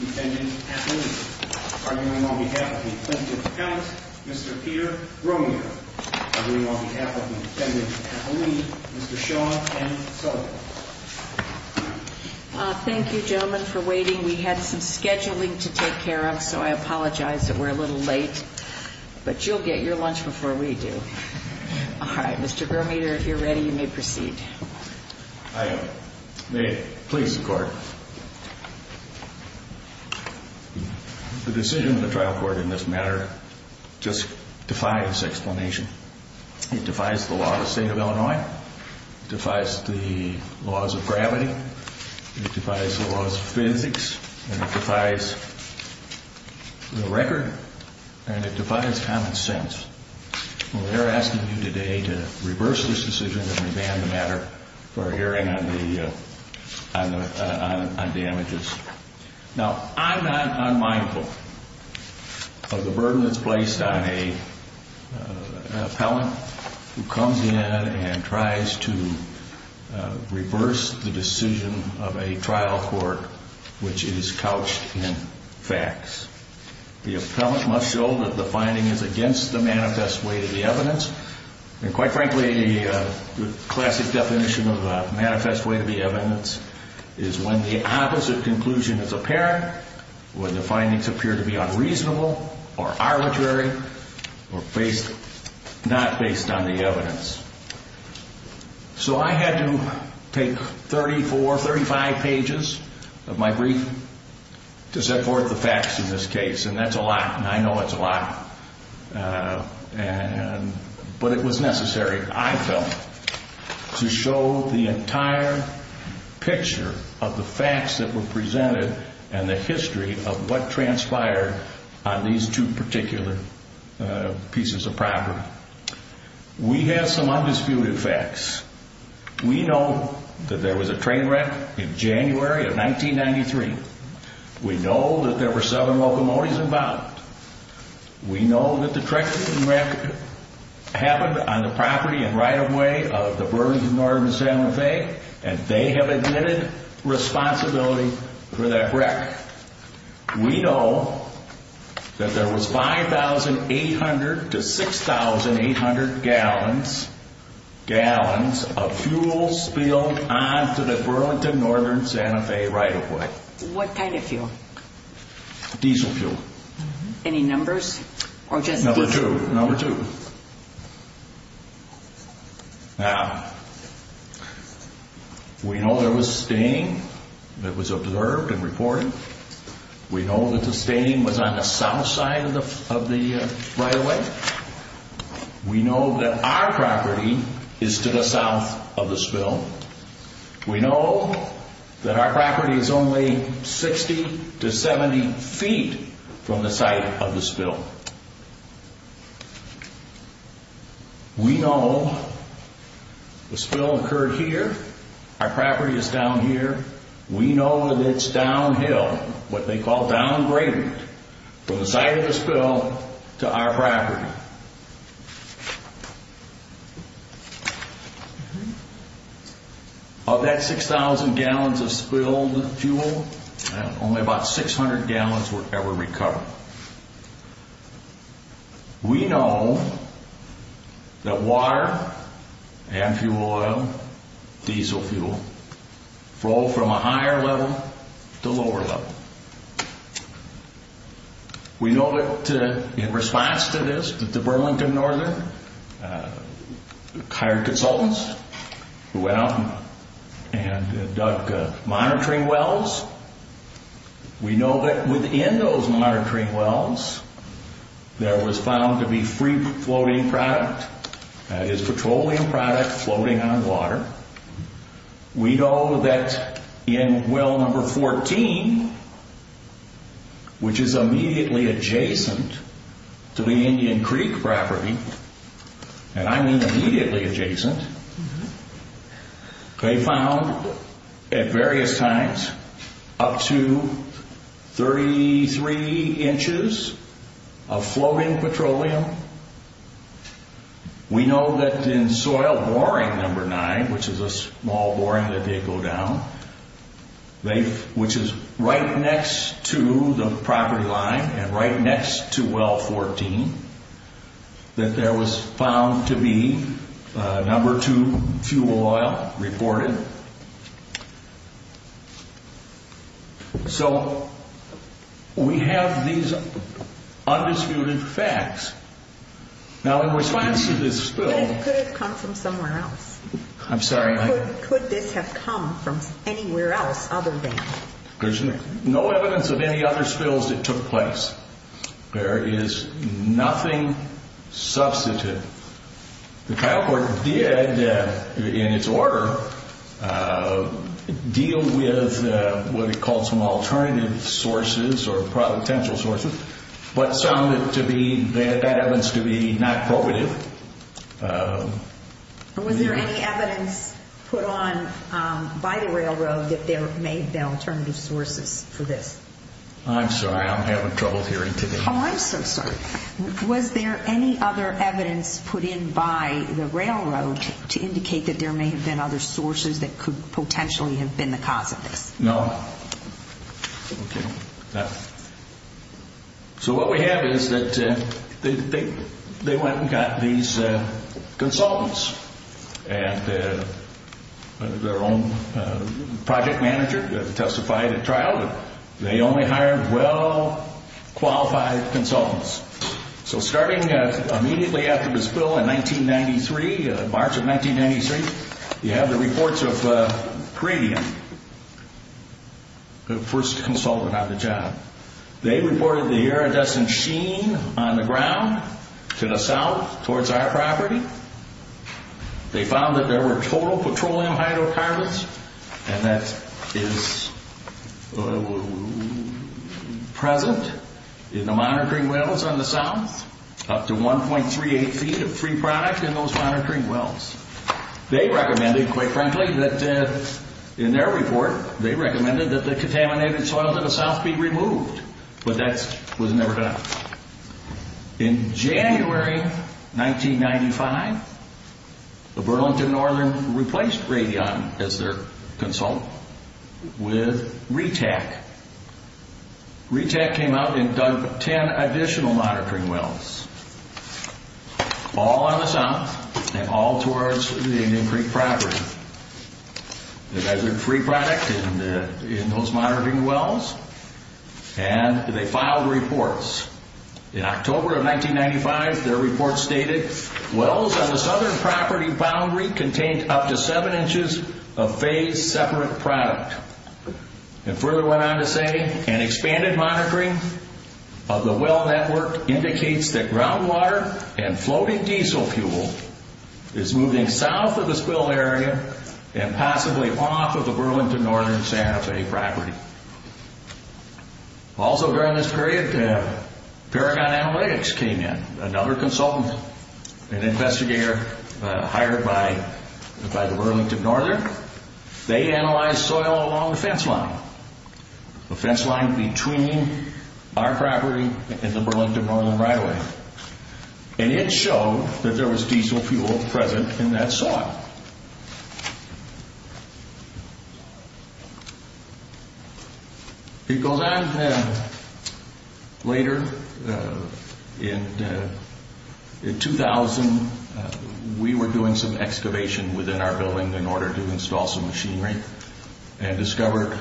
Defendant Kathleen. Arguing on behalf of the plaintiff's account, Mr. Peter Romero. Arguing on behalf of the defendant, Kathleen, Mr. Sean M. Sullivan. Thank you, gentlemen, for waiting. We had some scheduling to take care of, so I apologize that we're a little late. But you'll get your lunch before we do. All right, Mr. Gromieder, if you're ready, you may proceed. I may please the Court. The decision of the trial court in this matter just defies explanation. It defies the law of the state of Illinois. It defies the laws of gravity. It defies the laws of physics. And it defies the record. And it defies common sense. We're asking you today to reverse this decision and revamp the matter for a hearing on the damages. Now, I'm not unmindful of the burden that's placed on an appellant who comes in and tries to reverse the decision of a trial court which is couched in facts. The appellant must show that the finding is against the manifest way to be evidence. And quite frankly, the classic definition of a manifest way to be evidence is when the opposite conclusion is apparent, when the findings appear to be unreasonable or arbitrary or not based on the evidence. So I had to take 34, 35 pages of my brief to set forth the facts in this case. And that's a lot. And I know it's a lot. But it was necessary, I felt, to show the entire picture of the facts that were presented and the history of what transpired on these two particular pieces of property. Now, we have some undisputed facts. We know that there was a train wreck in January of 1993. We know that there were seven locomotives involved. We know that the train wreck happened on the property and right-of-way of the Burlington Northern and Salem and Fay. And they have admitted responsibility for that wreck. We know that there was 5,800 to 6,800 gallons of fuel spilled onto the Burlington Northern and Santa Fe right-of-way. What kind of fuel? Diesel fuel. Any numbers? Number two. Number two. Now, we know there was staining that was observed and reported. We know that the staining was on the south side of the right-of-way. We know that our property is to the south of the spill. We know that our property is only 60 to 70 feet from the site of the spill. We know the spill occurred here. Our property is down here. We know that it's downhill, what they call downgraded, from the site of the spill to our property. Of that 6,000 gallons of spilled fuel, only about 600 gallons were ever recovered. We know that water and fuel oil, diesel fuel, flow from a higher level to a lower level. We know that in response to this, that the Burlington Northern hired consultants who went out and dug monitoring wells. We know that within those monitoring wells, there was found to be free-floating product, that is, petroleum product floating on water. We know that in well number 14, which is immediately adjacent to the Indian Creek property, and I mean immediately adjacent, they found at various times up to 33 inches of floating petroleum. We know that in soil boring number 9, which is a small boring that they go down, which is right next to the property line and right next to well 14, that there was found to be number 2 fuel oil reported. So, we have these undisputed facts. Now, in response to this spill... Could it have come from somewhere else? I'm sorry? Could this have come from anywhere else other than... There's no evidence of any other spills that took place. There is nothing substantive. The trial court did, in its order, deal with what it called some alternative sources or potential sources, but some that evidence to be not probative. Was there any evidence put on by the railroad that there may have been alternative sources for this? I'm sorry, I'm having trouble hearing today. Oh, I'm so sorry. Was there any other evidence put in by the railroad to indicate that there may have been other sources that could potentially have been the cause of this? No? Okay. So, what we have is that they went and got these consultants and their own project manager testified at trial. They only hired well qualified consultants. So, starting immediately after the spill in 1993, March of 1993, you have the reports of Peridium, the first consultant on the job. They reported the iridescent sheen on the ground to the south towards our property. They found that there were total petroleum hydrocarbons, and that is present in the monitoring wells on the south. Up to 1.38 feet of free product in those monitoring wells. They recommended, quite frankly, that in their report, they recommended that the contaminated soil to the south be removed. But that was never done. In January 1995, the Burlington Northern replaced Radion as their consultant with RETAC. RETAC came out and dug 10 additional monitoring wells, all on the south and all towards the Indian Creek property. They found free product in those monitoring wells. And they filed reports. In October of 1995, their report stated, Wells on the southern property boundary contained up to 7 inches of phased separate product. And further went on to say, An expanded monitoring of the well network indicates that groundwater and floating diesel fuel is moving south of the spill area and possibly off of the Burlington Northern Santa Fe property. Also during this period, Paragon Analytics came in. Another consultant, an investigator hired by the Burlington Northern. They analyzed soil along the fence line. The fence line between our property and the Burlington Northern right-of-way. And it showed that there was diesel fuel present in that soil. It goes on. Later, in 2000, we were doing some excavation within our building in order to install some machinery and discovered,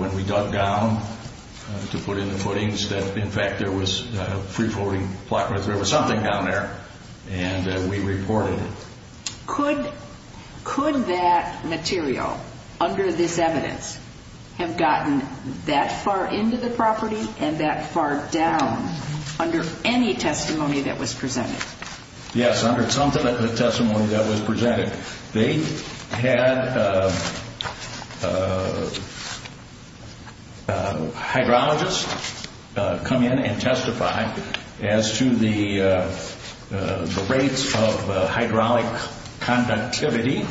when we dug down to put in the footings, that, in fact, there was a free-floating flat-earth river, something down there. And we reported it. Could that material, under this evidence, have gotten that far into the property and that far down under any testimony that was presented? Yes, under some of the testimony that was presented. They had hydrologists come in and testify as to the rates of hydraulic conductivity.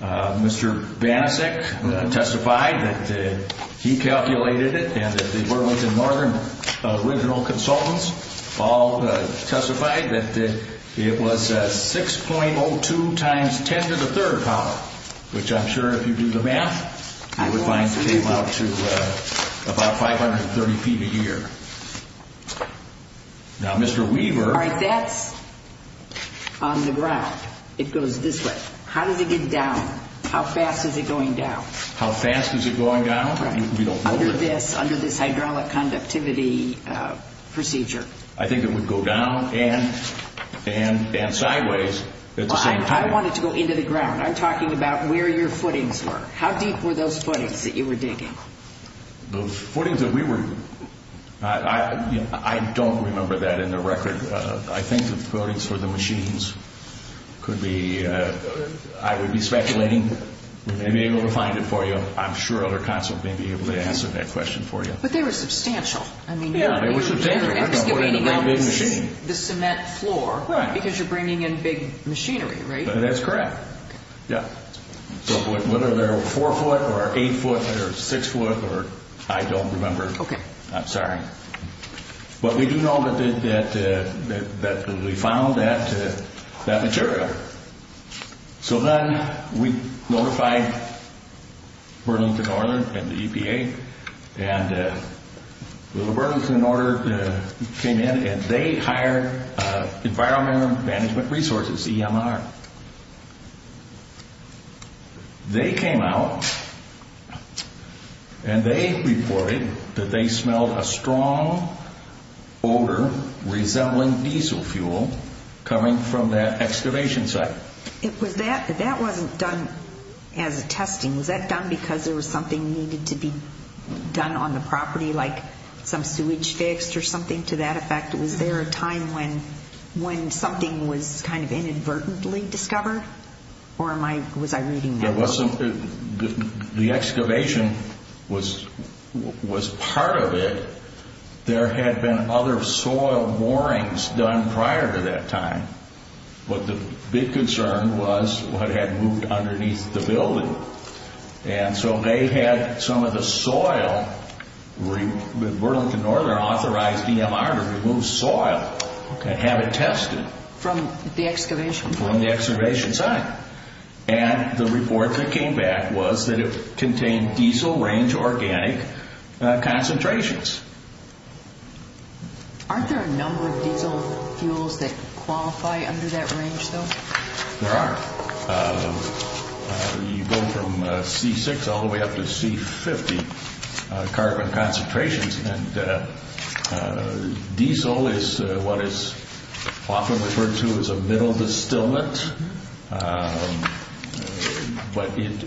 Mr. Banasek testified that he calculated it and that the Burlington Northern original consultants all testified that it was 6.02 times 10 to the third power, which I'm sure, if you do the math, you would find came out to about 530 feet a year. Now, Mr. Weaver... All right, that's on the ground. It goes this way. How does it get down? How fast is it going down? How fast is it going down? Under this hydraulic conductivity procedure. I think it would go down and sideways at the same time. I don't want it to go into the ground. I'm talking about where your footings were. How deep were those footings that you were digging? The footings that we were... I don't remember that in the record. I think the footings for the machines could be... I would be speculating. We may be able to find it for you. I'm sure other consultants may be able to answer that question for you. But they were substantial. Yeah, they were substantial. We're talking about a big machine. The cement floor, because you're bringing in big machinery, right? That's correct. Whether they were 4 foot or 8 foot or 6 foot or... I don't remember. Okay. I'm sorry. But we do know that we found that material. So then we notified Burlington Northern and the EPA. And the Burlington Northern came in, and they hired Environmental Management Resources, EMR. They came out, and they reported that they smelled a strong odor resembling diesel fuel coming from that excavation site. That wasn't done as a testing. Was that done because there was something needed to be done on the property, like some sewage fixed or something to that effect? Was there a time when something was kind of inadvertently discovered? Or was I reading that wrong? The excavation was part of it. There had been other soil moorings done prior to that time. But the big concern was what had moved underneath the building. And so they had some of the soil. Burlington Northern authorized EMR to remove soil and have it tested. From the excavation site? From the excavation site. And the report that came back was that it contained diesel range organic concentrations. Aren't there a number of diesel fuels that qualify under that range, though? There are. You go from C6 all the way up to C50 carbon concentrations. Diesel is what is often referred to as a middle distillate. But it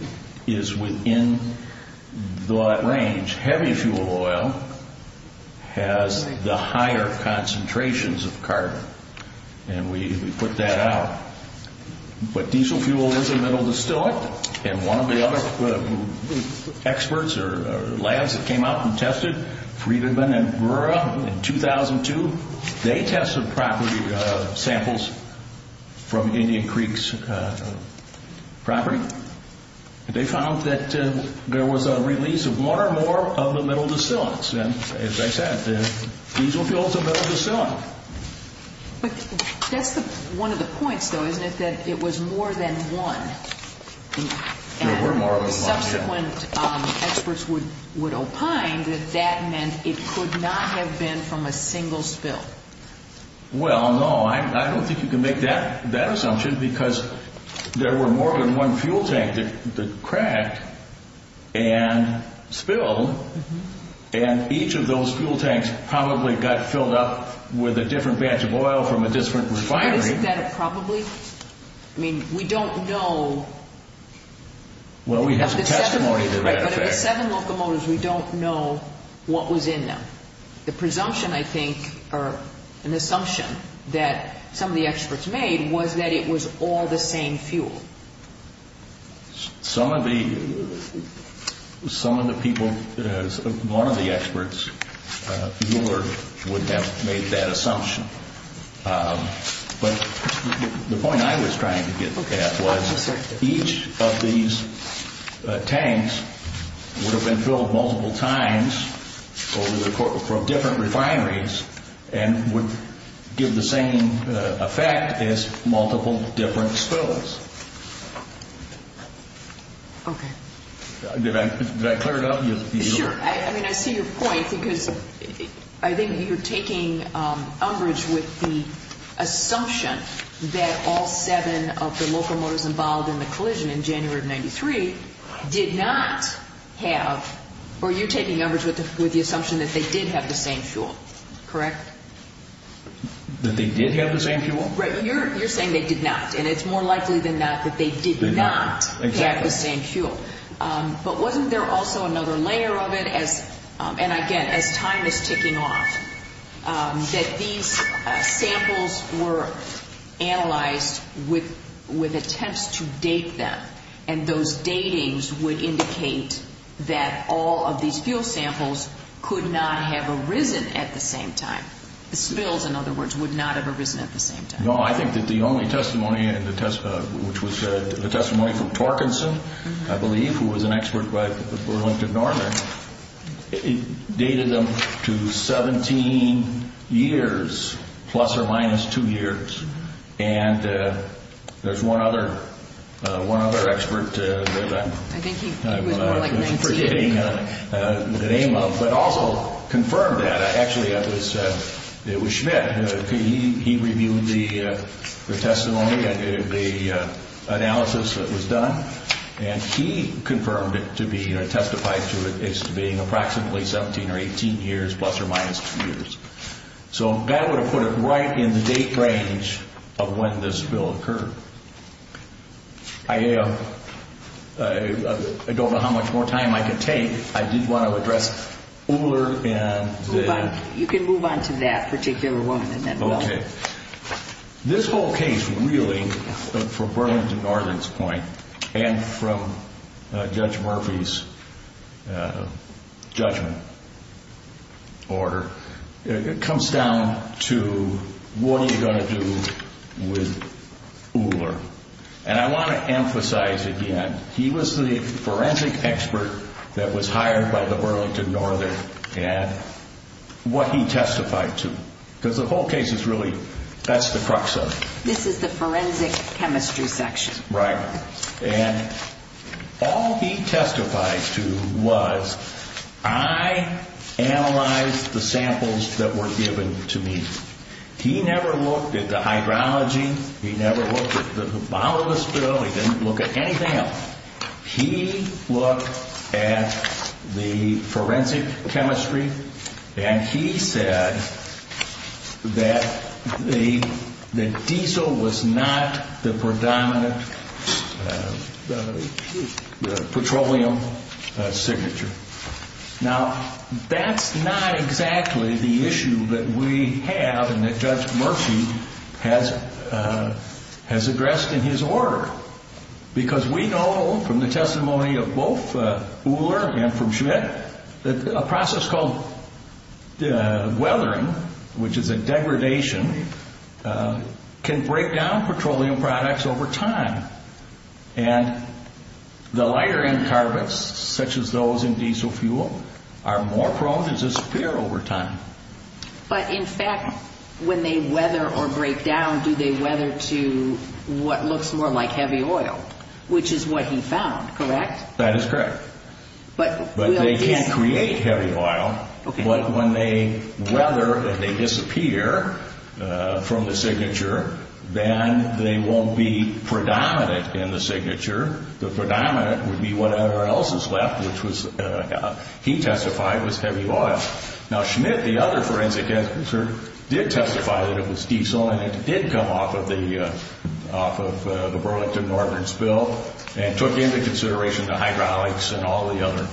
is within that range. Heavy fuel oil has the higher concentrations of carbon. And we put that out. But diesel fuel is a middle distillate. And one of the other experts or labs that came out and tested Friedman and Brewer in 2002, they tested property samples from Indian Creek's property. They found that there was a release of more and more of the middle distillates. And as I said, diesel fuel is a middle distillate. But that's one of the points, though, isn't it, that it was more than one? There were more than one. Subsequent experts would opine that that meant it could not have been from a single spill. Well, no, I don't think you can make that assumption because there were more than one fuel tank that cracked and spilled. And each of those fuel tanks probably got filled up with a different batch of oil from a different refinery. Isn't that a probably? I mean, we don't know. Well, we have some testimony to that effect. Right, but of the seven locomotives, we don't know what was in them. The presumption, I think, or an assumption that some of the experts made was that it was all the same fuel. Some of the people, one of the experts, Euler, would have made that assumption. But the point I was trying to get at was each of these tanks would have been filled multiple times from different refineries and would give the same effect as multiple different spills. Okay. Did I clear it up? Sure. I mean, I see your point because I think you're taking umbrage with the assumption that all seven of the locomotives involved in the collision in January of 1993 did not have Or you're taking umbrage with the assumption that they did have the same fuel, correct? That they did have the same fuel? Right. You're saying they did not, and it's more likely than not that they did not have the same fuel. But wasn't there also another layer of it, and again, as time is ticking off, that these samples were analyzed with attempts to date them, and those datings would indicate that all of these fuel samples could not have arisen at the same time. The spills, in other words, would not have arisen at the same time. No, I think that the only testimony, which was the testimony from Torkinson, I believe, who was an expert by Berlington Northern, it dated them to 17 years, plus or minus two years. And there's one other expert that I'm forgetting the name of, but also confirmed that. Actually, it was Schmidt. He reviewed the testimony, the analysis that was done, and he confirmed it to be, or testified to it as being approximately 17 or 18 years, plus or minus two years. So that would have put it right in the date range of when this bill occurred. I don't know how much more time I can take. I did want to address Uhler and the— You can move on to that particular one, and then we'll— Okay. This whole case, really, from Burlington Northern's point, and from Judge Murphy's judgment order, it comes down to what are you going to do with Uhler? And I want to emphasize again, he was the forensic expert that was hired by the Burlington Northern and what he testified to, because the whole case is really—that's the crux of it. This is the forensic chemistry section. Right. And all he testified to was, I analyzed the samples that were given to me. He never looked at the hydrology. He never looked at the bottom of the spill. He didn't look at anything else. He looked at the forensic chemistry, and he said that the diesel was not the predominant petroleum signature. Now, that's not exactly the issue that we have and that Judge Murphy has addressed in his order, because we know from the testimony of both Uhler and from Schmidt that a process called weathering, which is a degradation, can break down petroleum products over time. And the lighter end carbons, such as those in diesel fuel, are more prone to disappear over time. But, in fact, when they weather or break down, do they weather to what looks more like heavy oil, which is what he found, correct? That is correct. But— But they can create heavy oil. Okay. But when they weather and they disappear from the signature, then they won't be predominant in the signature. The predominant would be whatever else is left, which was—he testified was heavy oil. Now, Schmidt, the other forensic expert, did testify that it was diesel, and it did come off of the Burlington-Northern spill and took into consideration the hydraulics and all the other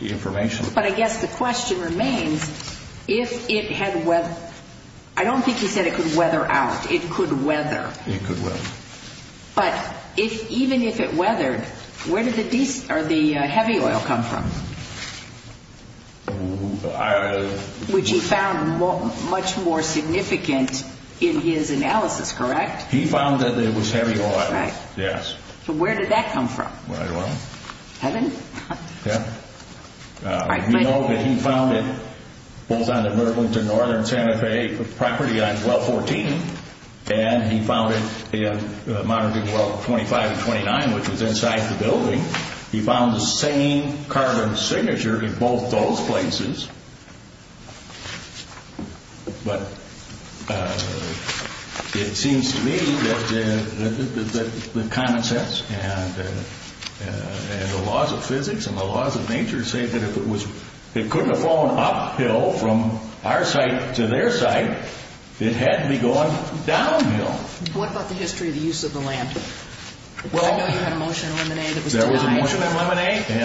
information. But I guess the question remains, if it had weathered—I don't think he said it could weather out. It could weather. It could weather. But even if it weathered, where did the heavy oil come from? I— Which he found much more significant in his analysis, correct? He found that it was heavy oil. That's right. Yes. So where did that come from? Well— Heaven? Yeah. You know that he found it both on the Burlington-Northern Santa Fe property on 1214, and he found it in—well, 25 and 29, which was inside the building. He found the same carbon signature in both those places. But it seems to me that the common sense and the laws of physics and the laws of nature say that if it was— from our site to their site, it had to be going downhill. What about the history of the use of the land? Well— I know you had a motion in Lemonade that was denied. There was a motion in Lemonade, and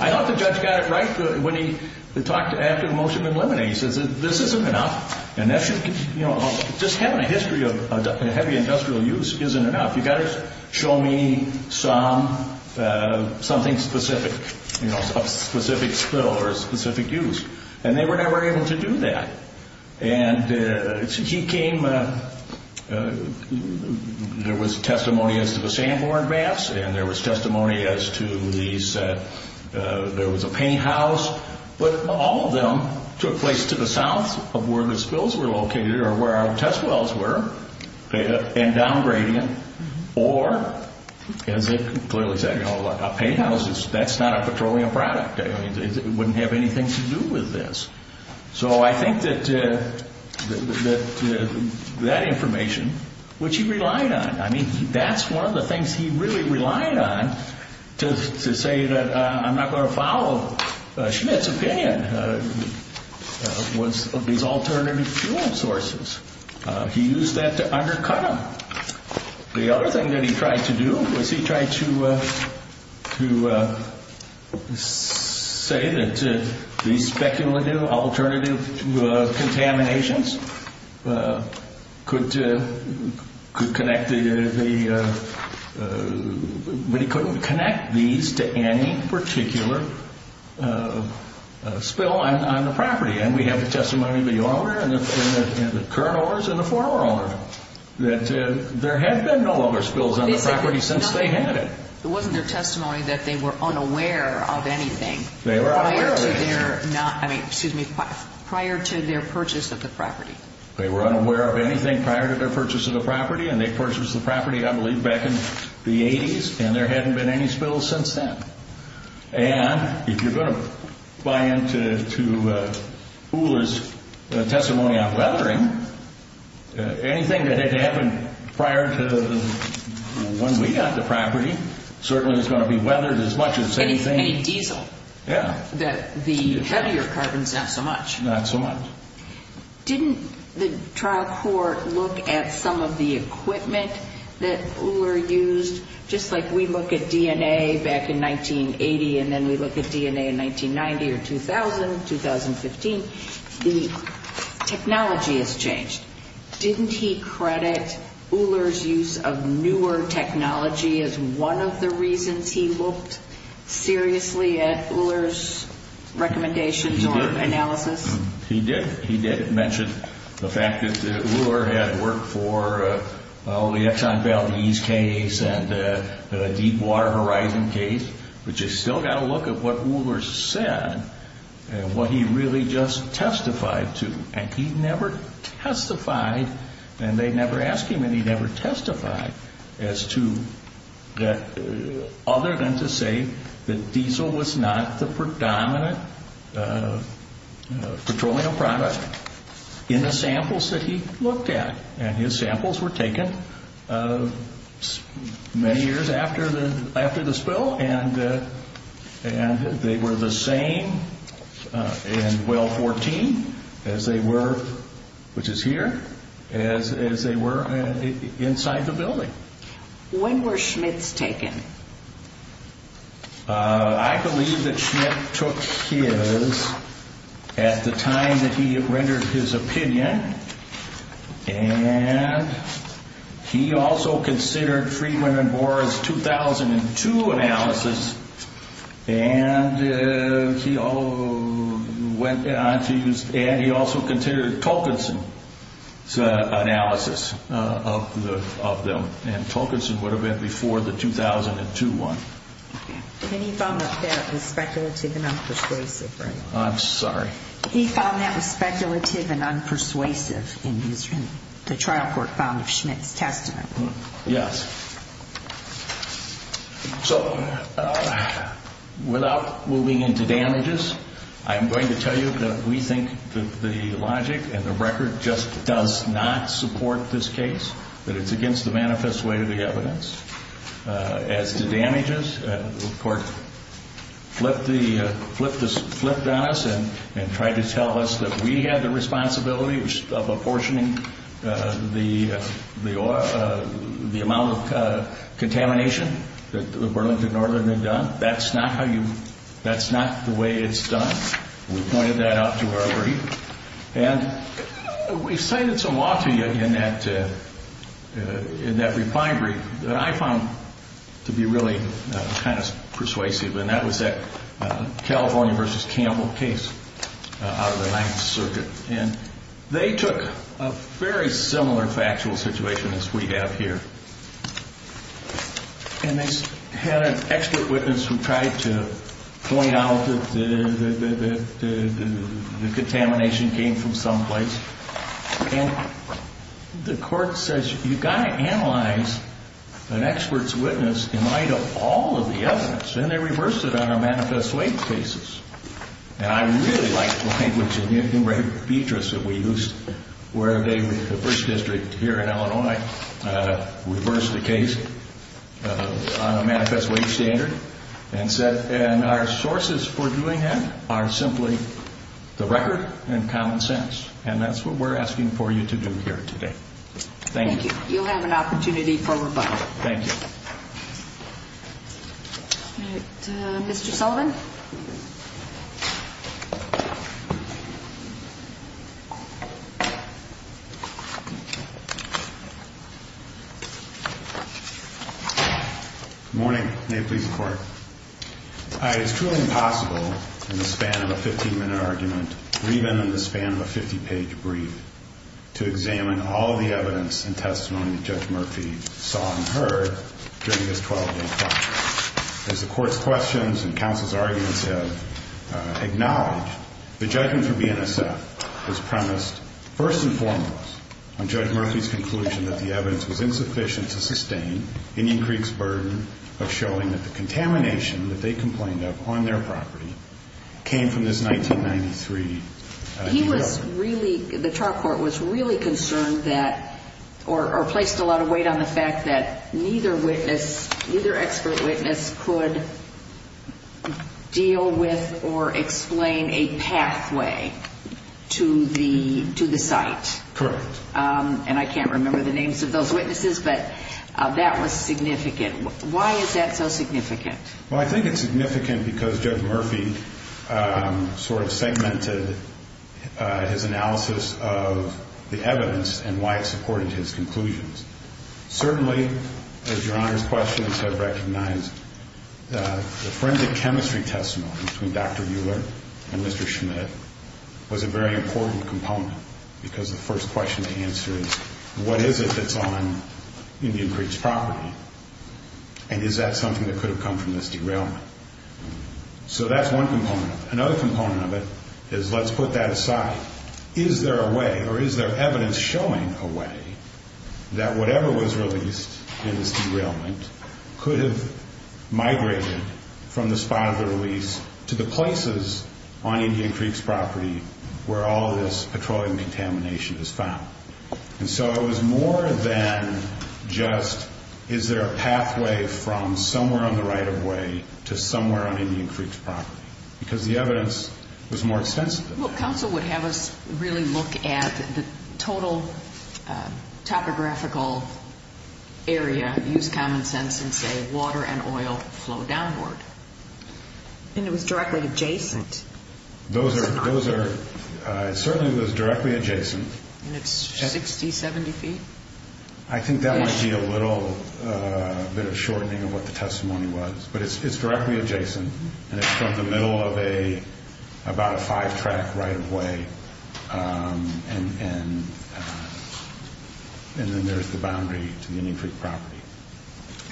I thought the judge got it right when he talked after the motion in Lemonade. He says, this isn't enough, and that should—you know, just having a history of heavy industrial use isn't enough. You've got to show me something specific, you know, a specific spill or a specific use. And they were never able to do that. And he came—there was testimony as to the Sanborn Baths, and there was testimony as to these— there was a paint house, but all of them took place to the south of where the spills were located or where our test wells were, and downgrading. Or, as they clearly said, you know, a paint house, that's not a petroleum product. It wouldn't have anything to do with this. So I think that that information, which he relied on, I mean, that's one of the things he really relied on to say that I'm not going to follow Schmidt's opinion, was these alternative fuel sources. He used that to undercut them. The other thing that he tried to do was he tried to say that these speculative alternative contaminations could connect the—but he couldn't connect these to any particular spill on the property. And we have the testimony of the owner and the current owners and the former owner that there had been no other spills on the property since they had it. It wasn't their testimony that they were unaware of anything prior to their— I mean, excuse me, prior to their purchase of the property. They were unaware of anything prior to their purchase of the property, and they purchased the property, I believe, back in the 80s, and there hadn't been any spills since then. And if you're going to buy into Uhler's testimony on weathering, anything that had happened prior to when we got the property certainly is going to be weathered as much as anything— Any diesel. Yeah. The heavier carbons, not so much. Not so much. Didn't the trial court look at some of the equipment that Uhler used? Just like we look at DNA back in 1980 and then we look at DNA in 1990 or 2000, 2015, the technology has changed. Didn't he credit Uhler's use of newer technology as one of the reasons he looked seriously at Uhler's recommendations or analysis? He did. He did mention the fact that Uhler had worked for the Exxon Valdez case and the Deepwater Horizon case, but you still got to look at what Uhler said and what he really just testified to. And he never testified, and they never asked him and he never testified, other than to say that diesel was not the predominant petroleum product in the samples that he looked at. And his samples were taken many years after the spill, and they were the same in well 14 as they were, which is here, as they were inside the building. When were Schmitt's taken? I believe that Schmitt took his at the time that he rendered his opinion, and he also considered Friedman and Bohr's 2002 analysis, and he also considered Tolkienson's analysis of them, and Tolkienson would have been before the 2002 one. And he found that that was speculative and unpersuasive, right? I'm sorry? He found that was speculative and unpersuasive in the trial court found of Schmitt's testimony. Yes. So, without moving into damages, I'm going to tell you that we think that the logic and the record just does not support this case, that it's against the manifest way of the evidence. As to damages, the court flipped on us and tried to tell us that we had the responsibility of apportioning the amount of contamination that the Burlington Northern had done. That's not the way it's done. We pointed that out to our brief, and we cited some law to you in that reply brief. That I found to be really kind of persuasive, and that was that California v. Campbell case out of the Ninth Circuit, and they took a very similar factual situation as we have here, and they had an expert witness who tried to point out that the contamination came from someplace, and the court says, you've got to analyze an expert's witness in light of all of the evidence, and they reversed it on our manifest way cases, and I really like the language of Newton Ray Beatrice that we used, where they, the first district here in Illinois, reversed the case on a manifest way standard, and said, and our sources for doing that are simply the record and common sense, and that's what we're asking for you to do here today. Thank you. Thank you. You'll have an opportunity for rebuttal. Thank you. All right. Mr. Sullivan? Good morning. May it please the Court. It's truly impossible in the span of a 15-minute argument, or even in the span of a 50-page brief, to examine all the evidence and testimony that Judge Murphy saw and heard during this 12-day trial. As the Court's questions and counsel's arguments have acknowledged, the judgment for BNSF was premised first and foremost on Judge Murphy's conclusion that the evidence was insufficient to sustain Indian Creek's burden of showing that the contamination that they complained of on their property came from this 1993 development. He was really, the trial court was really concerned that, or placed a lot of weight on the fact that neither witness, neither expert witness could deal with or explain a pathway to the site. Correct. And I can't remember the names of those witnesses, but that was significant. Why is that so significant? Well, I think it's significant because Judge Murphy sort of segmented his analysis of the evidence and why it supported his conclusions. Certainly, as Your Honor's questions have recognized, the forensic chemistry testimony between Dr. Euler and Mr. Schmidt was a very important component because the first question to answer is, what is it that's on Indian Creek's property? And is that something that could have come from this derailment? So that's one component. Another component of it is, let's put that aside. Is there a way or is there evidence showing a way that whatever was released in this derailment could have migrated from the spot of the release to the places on Indian Creek's property where all this petroleum contamination is found? And so it was more than just, is there a pathway from somewhere on the right-of-way to somewhere on Indian Creek's property? Because the evidence was more extensive than that. Well, counsel would have us really look at the total topographical area, use common sense and say water and oil flow downward. And it was directly adjacent. It certainly was directly adjacent. And it's 60, 70 feet? I think that might be a little bit of a shortening of what the testimony was. But it's directly adjacent, and it's from the middle of about a five-track right-of-way, and then there's the boundary to the Indian Creek property.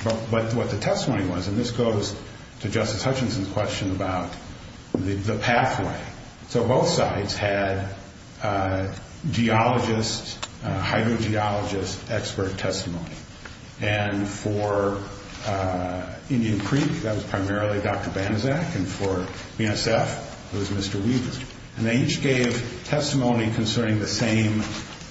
But what the testimony was, and this goes to Justice Hutchinson's question about the pathway. So both sides had geologists, hydrogeologists' expert testimony. And for Indian Creek, that was primarily Dr. Banaszak, and for BNSF, it was Mr. Weaver. And they each gave testimony concerning the same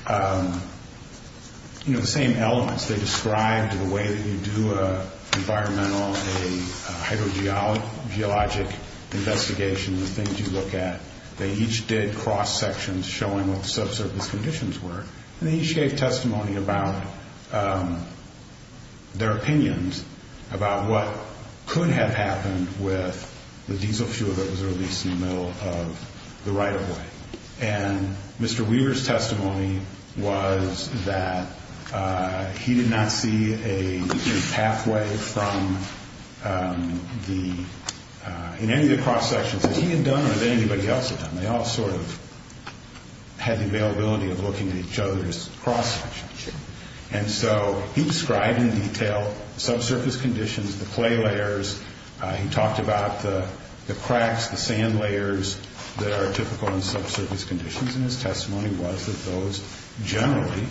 elements. They described the way that you do an environmental, a hydrogeologic investigation, the things you look at. They each did cross-sections showing what the subsurface conditions were. And they each gave testimony about their opinions about what could have happened with the diesel fuel that was released in the middle of the right-of-way. And Mr. Weaver's testimony was that he did not see a pathway from the ñ in any of the cross-sections that he had done or that anybody else had done. They all sort of had the availability of looking at each other's cross-sections. And so he described in detail subsurface conditions, the clay layers. He talked about the cracks, the sand layers that are typical in subsurface conditions. And his testimony was that those generally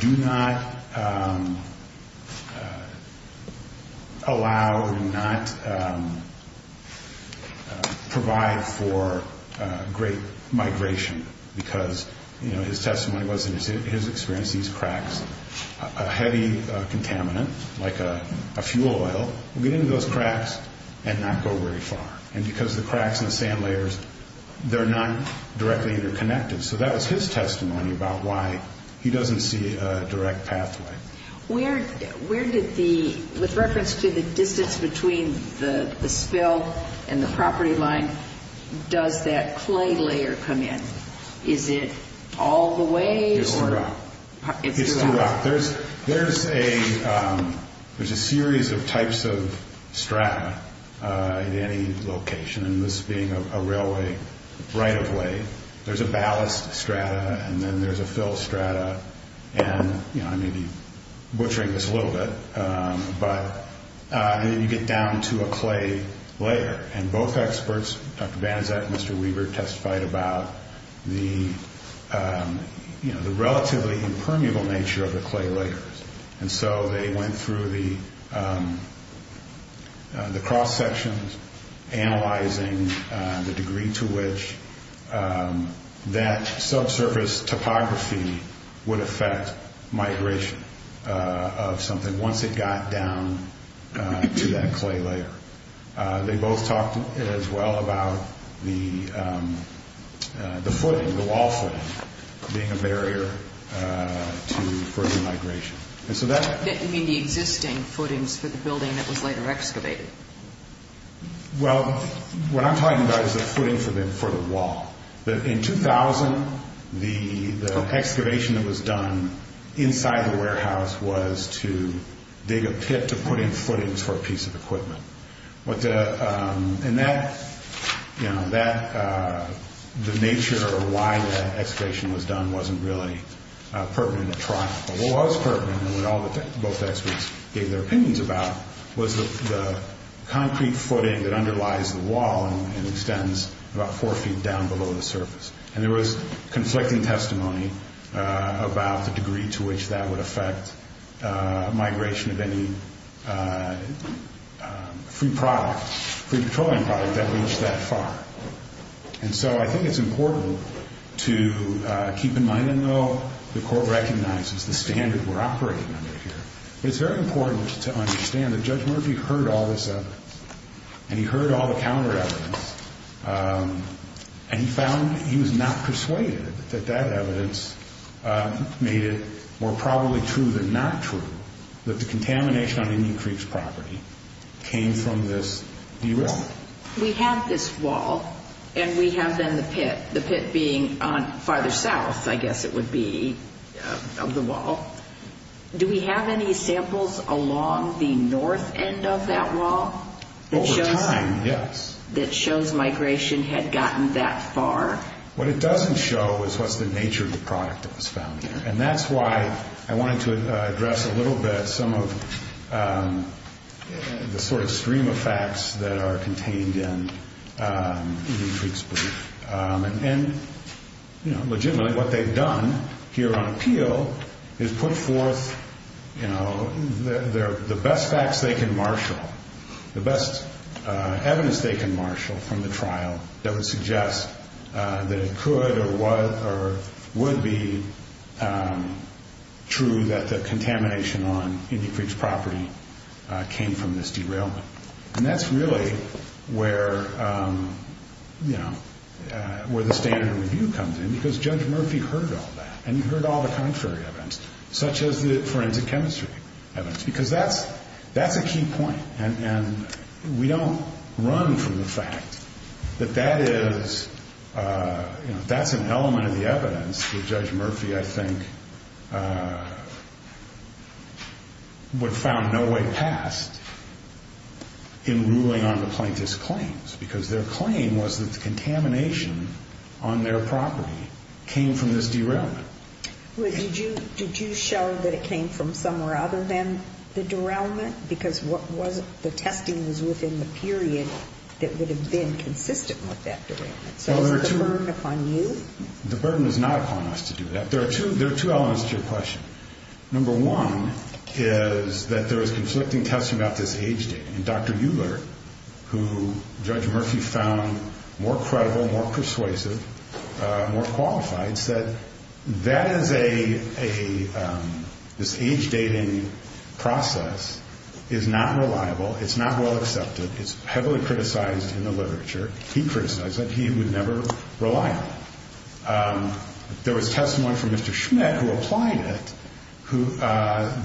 do not allow, do not provide for great migration because his testimony was, in his experience, he sees cracks. A heavy contaminant, like a fuel oil, will get into those cracks and not go very far. And because of the cracks and the sand layers, they're not directly interconnected. So that was his testimony about why he doesn't see a direct pathway. Where did the ñ with reference to the distance between the spill and the property line, does that clay layer come in? Is it all the way or ñ It's throughout. It's throughout. There's a series of types of strata in any location, and this being a railway right-of-way. There's a ballast strata, and then there's a fill strata. And I may be butchering this a little bit, but you get down to a clay layer. And both experts, Dr. Banaszak and Mr. Weaver, testified about the relatively impermeable nature of the clay layers. And so they went through the cross-sections, analyzing the degree to which that subsurface topography would affect migration of something once it got down to that clay layer. They both talked as well about the footing, the wall footing, being a barrier to further migration. And so that ñ You mean the existing footings for the building that was later excavated? Well, what I'm talking about is the footing for the wall. In 2000, the excavation that was done inside the warehouse was to dig a pit to put in footings for a piece of equipment. And that ñ the nature of why that excavation was done wasn't really pertinent at trial. What was pertinent, and what both experts gave their opinions about, was the concrete footing that underlies the wall and extends about four feet down below the surface. And there was conflicting testimony about the degree to which that would affect migration of any free product, free petroleum product that reached that far. And so I think it's important to keep in mind, and though the Court recognizes the standard we're operating under here, it's very important to understand that Judge Murphy heard all this evidence. And he heard all the counter evidence. And he found he was not persuaded that that evidence made it more probably true than not true that the contamination on Indian Creek's property came from this derailment. We have this wall, and we have then the pit, the pit being farther south, I guess it would be, of the wall. Do we have any samples along the north end of that wall? Over time, yes. That shows migration had gotten that far. What it doesn't show is what's the nature of the product that was found there. And that's why I wanted to address a little bit some of the sort of stream of facts that are contained in Indian Creek's belief. Legitimately, what they've done here on appeal is put forth the best facts they can marshal, the best evidence they can marshal from the trial that would suggest that it could or would be true that the contamination on Indian Creek's property came from this derailment. And that's really where, you know, where the standard review comes in, because Judge Murphy heard all that, and he heard all the contrary evidence, such as the forensic chemistry evidence, because that's a key point. And we don't run from the fact that that is, you know, that's an element of the evidence that Judge Murphy, I think, would have found no way past in ruling on the plaintiff's claims, because their claim was that the contamination on their property came from this derailment. Did you show that it came from somewhere other than the derailment? Because the testing was within the period that would have been consistent with that derailment. So is that a burden upon you? The burden is not upon us to do that. There are two elements to your question. Number one is that there is conflicting testing about this age dating. And Dr. Euler, who Judge Murphy found more credible, more persuasive, more qualified, said that is a – this age dating process is not reliable, it's not well accepted, it's heavily criticized in the literature. He criticized that he would never rely on it. There was testimony from Mr. Schmidt, who applied it,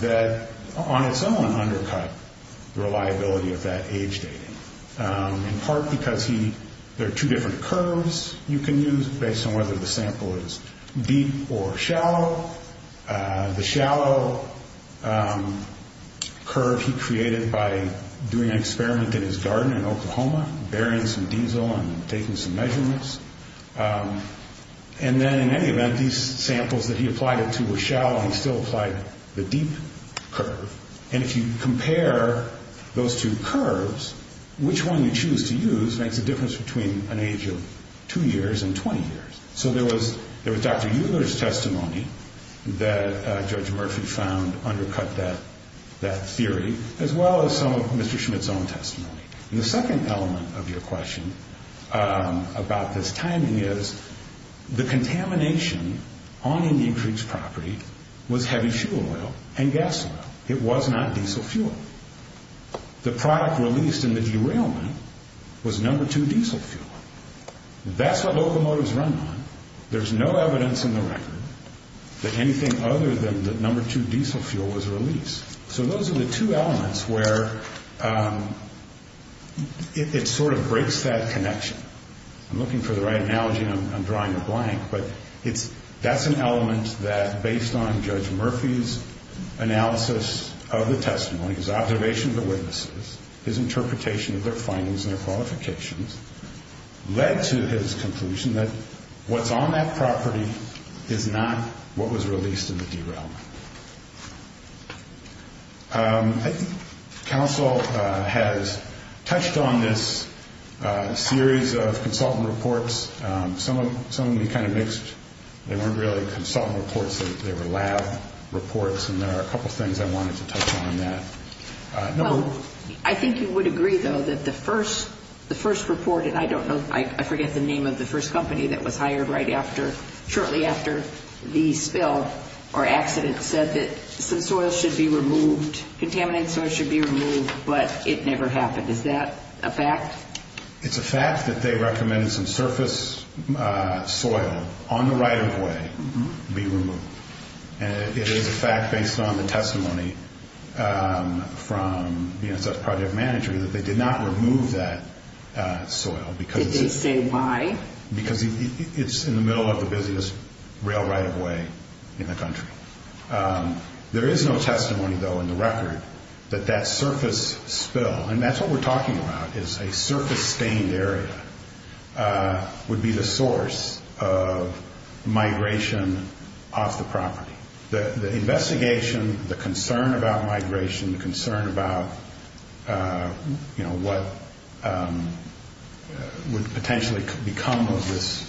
that on its own undercut the reliability of that age dating, in part because he – there are two different curves you can use based on whether the sample is deep or shallow. The shallow curve he created by doing an experiment in his garden in Oklahoma, burying some diesel and taking some measurements. And then in any event, these samples that he applied it to were shallow, and he still applied the deep curve. And if you compare those two curves, which one you choose to use makes a difference between an age of two years and 20 years. So there was Dr. Euler's testimony that Judge Murphy found undercut that theory, as well as some of Mr. Schmidt's own testimony. And the second element of your question about this timing is, the contamination on any increased property was heavy fuel oil and gas oil. It was not diesel fuel. The product released in the derailment was number two diesel fuel. That's what locomotives run on. There's no evidence in the record that anything other than the number two diesel fuel was released. So those are the two elements where it sort of breaks that connection. I'm looking for the right analogy and I'm drawing a blank, but that's an element that based on Judge Murphy's analysis of the testimony, his observation of the witnesses, his interpretation of their findings and their qualifications, led to his conclusion that what's on that property is not what was released in the derailment. I think counsel has touched on this series of consultant reports. Some of them you kind of mixed. They weren't really consultant reports. They were lab reports, and there are a couple things I wanted to touch on that. Well, I think you would agree, though, that the first report, and I don't know, I forget the name of the first company that was hired right after, shortly after the spill or accident said that some soil should be removed, contaminant soil should be removed, but it never happened. Is that a fact? It's a fact that they recommended some surface soil on the right-of-way be removed, and it is a fact based on the testimony from the NSF project manager that they did not remove that soil. Did they say why? Because it's in the middle of the busiest rail right-of-way in the country. There is no testimony, though, in the record that that surface spill, and that's what we're talking about, is a surface stained area, would be the source of migration off the property. The investigation, the concern about migration, the concern about what would potentially become of this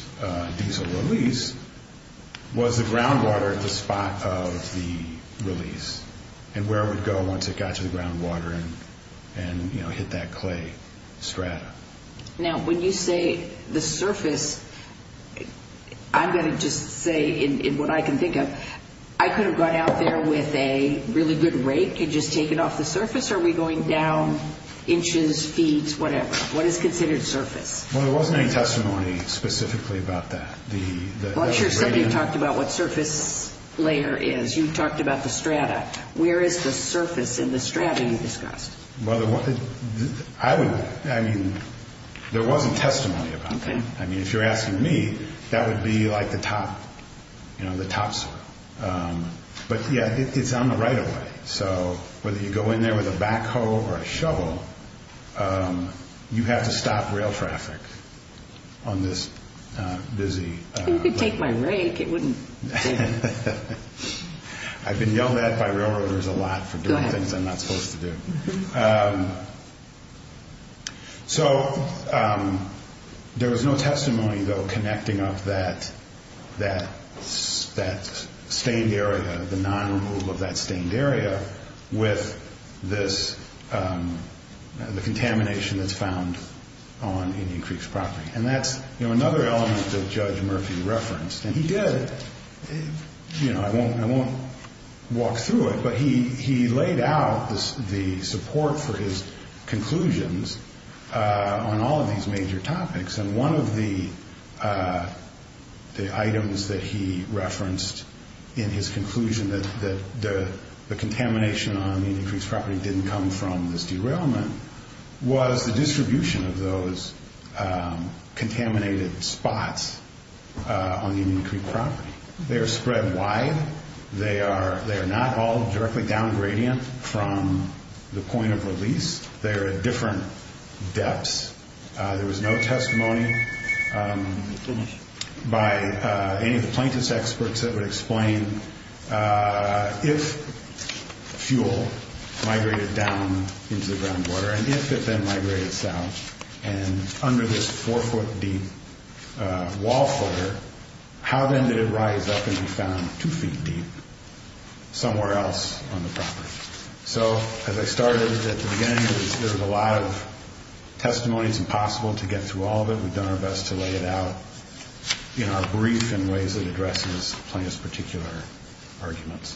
diesel release, was the groundwater at the spot of the release and where it would go once it got to the groundwater and hit that clay strata. Now, when you say the surface, I'm going to just say, in what I can think of, I could have gone out there with a really good rake and just taken off the surface, or are we going down inches, feet, whatever? What is considered surface? Well, there wasn't any testimony specifically about that. I'm sure somebody talked about what surface layer is. You talked about the strata. Where is the surface in the strata you discussed? I mean, there wasn't testimony about that. I mean, if you're asking me, that would be like the top soil. But, yeah, it's on the right-of-way, so whether you go in there with a backhoe or a shovel, You could take my rake. I've been yelled at by railroaders a lot for doing things I'm not supposed to do. So there was no testimony, though, connecting up that stained area, the non-removal of that stained area, with the contamination that's found on Indian Creeks property. And that's another element that Judge Murphy referenced. And he did. I won't walk through it, but he laid out the support for his conclusions on all of these major topics. And one of the items that he referenced in his conclusion that the contamination on Indian Creeks property didn't come from this derailment was the distribution of those contaminated spots on the Indian Creek property. They are spread wide. They are not all directly downgradient from the point of release. They are at different depths. There was no testimony by any of the plaintiffs' experts that would explain if fuel migrated down into the groundwater and if it then migrated south and under this 4-foot-deep wall footer, how then did it rise up and be found 2 feet deep somewhere else on the property? So as I started at the beginning, there was a lot of testimony. It's impossible to get through all of it. We've done our best to lay it out in our brief in ways that addresses plaintiff's particular arguments.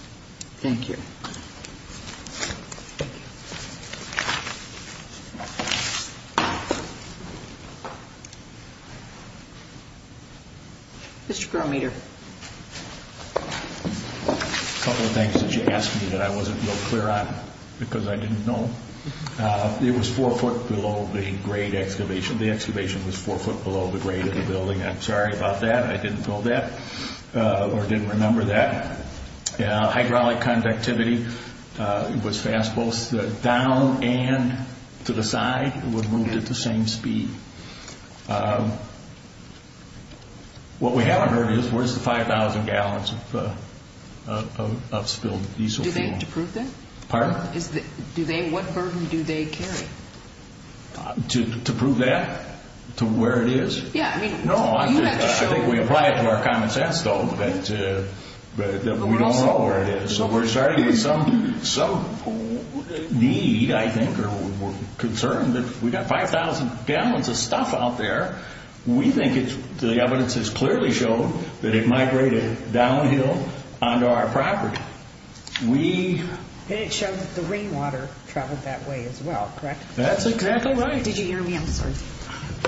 Thank you. Mr. Grometer. A couple of things that you asked me that I wasn't real clear on because I didn't know. It was 4 foot below the grade excavation. The excavation was 4 foot below the grade of the building. I'm sorry about that. I didn't know that or didn't remember that. Hydraulic conductivity was fast. Both down and to the side were moved at the same speed. What we haven't heard is where's the 5,000 gallons of spilled diesel fuel? Do they have to prove that? Pardon? What burden do they carry? To prove that? To where it is? No, I think we apply it to our common sense, though, that we don't know where it is. So we're starting to get some need, I think, or concern that we've got 5,000 gallons of stuff out there. We think the evidence has clearly shown that it migrated downhill onto our property. And it showed that the rainwater traveled that way as well, correct? That's exactly right. Did you hear me? I'm sorry.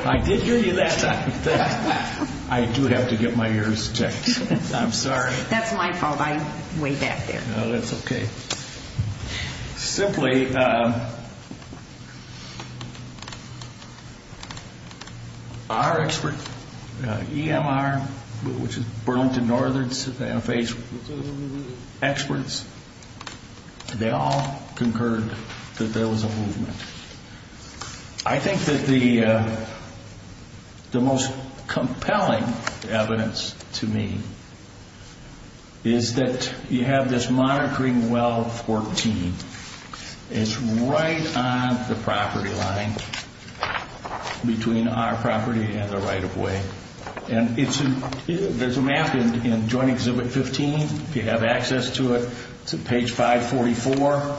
I did hear you that time. I do have to get my ears checked. I'm sorry. That's my fault. I'm way back there. No, that's okay. Simply, our expert, EMR, which is Burlington Northern's FH experts, they all concurred that there was a movement. I think that the most compelling evidence to me is that you have this monitoring well 14. It's right on the property line between our property and the right-of-way. And there's a map in Joint Exhibit 15. If you have access to it, it's at page 544.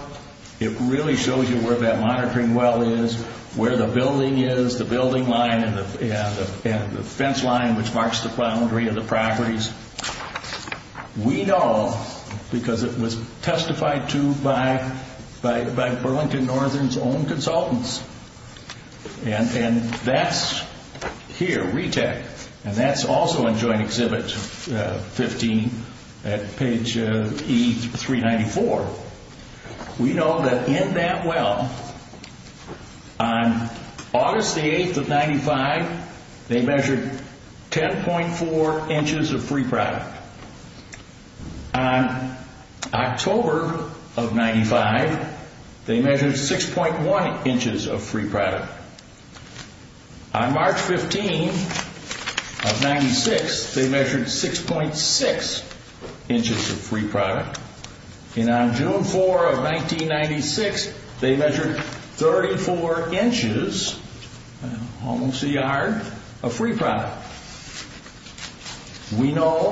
It really shows you where that monitoring well is, where the building is, the building line and the fence line which marks the boundary of the properties. We know, because it was testified to by Burlington Northern's own consultants, and that's here, RETEC, and that's also in Joint Exhibit 15 at page E394. We know that in that well, on August 8th of 1995, they measured 10.4 inches of free product. On October of 1995, they measured 6.1 inches of free product. On March 15th of 1996, they measured 6.6 inches of free product. And on June 4th of 1996, they measured 34 inches, almost a yard, of free product. We know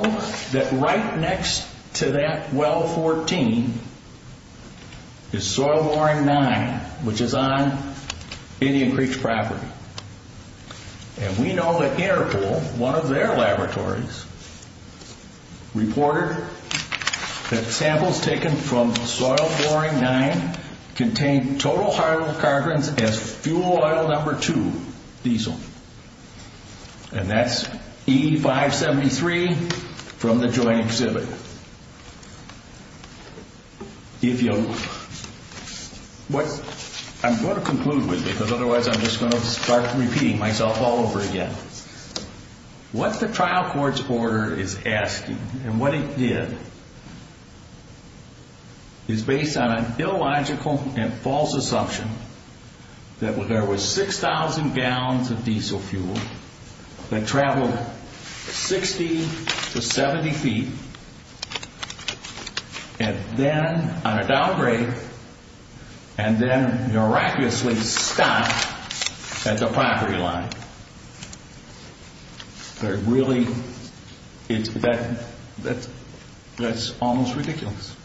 that right next to that well 14 is Soil Boring 9, which is on Indian Creek's property. And we know that Interpol, one of their laboratories, reported that samples taken from Soil Boring 9 contained total hydrocarbons as fuel oil number two, diesel. And that's E573 from the Joint Exhibit. I'm going to conclude with you, because otherwise I'm just going to start repeating myself all over again. What the trial court's order is asking, and what it did, is based on an illogical and false assumption that there were 6,000 gallons of diesel fuel that traveled 60 to 70 feet, and then on a downgrade, and then miraculously stopped at the pottery line. They're really, that's almost ridiculous.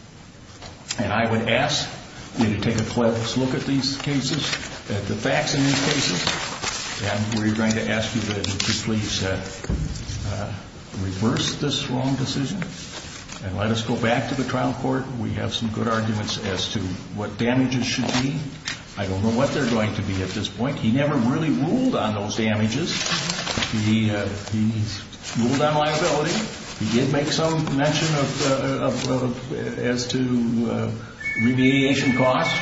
And I would ask you to take a close look at these cases, at the facts in these cases, and we're going to ask you to please reverse this wrong decision and let us go back to the trial court. We have some good arguments as to what damages should be. I don't know what they're going to be at this point. He never really ruled on those damages. He ruled on liability. He did make some mention as to remediation costs.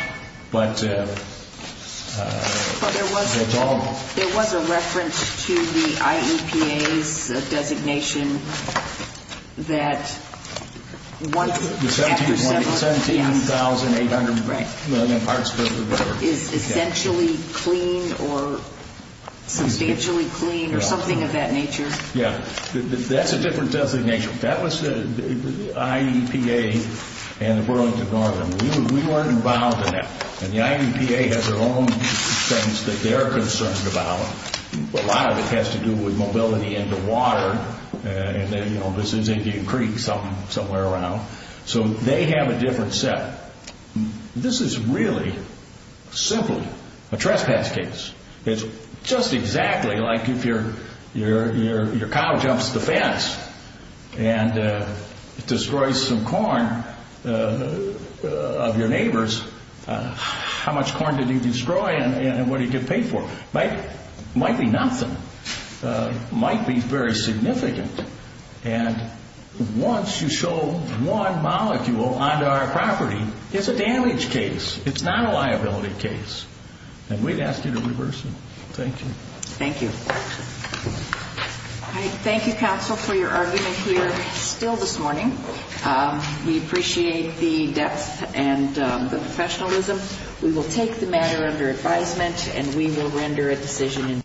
But that's all. There was a reference to the IEPA's designation that 17,800 million parts per liter is essentially clean, or substantially clean, or something of that nature. Yeah. That's a different designation. That was the IEPA and the Burlington Garden. We weren't involved in that. And the IEPA has their own things that they're concerned about. A lot of it has to do with mobility and the water, and then, you know, this is Indian Creek, somewhere around. So they have a different set. This is really simply a trespass case. It's just exactly like if your cow jumps the fence and destroys some corn of your neighbor's. How much corn did he destroy and what did he get paid for? It might be nothing. It might be very significant. And once you show one molecule onto our property, it's a damage case. It's not a liability case. And we'd ask you to reverse it. Thank you. Thank you. All right. Thank you, counsel, for your argument here still this morning. We appreciate the depth and the professionalism. We will take the matter under advisement, and we will render a decision.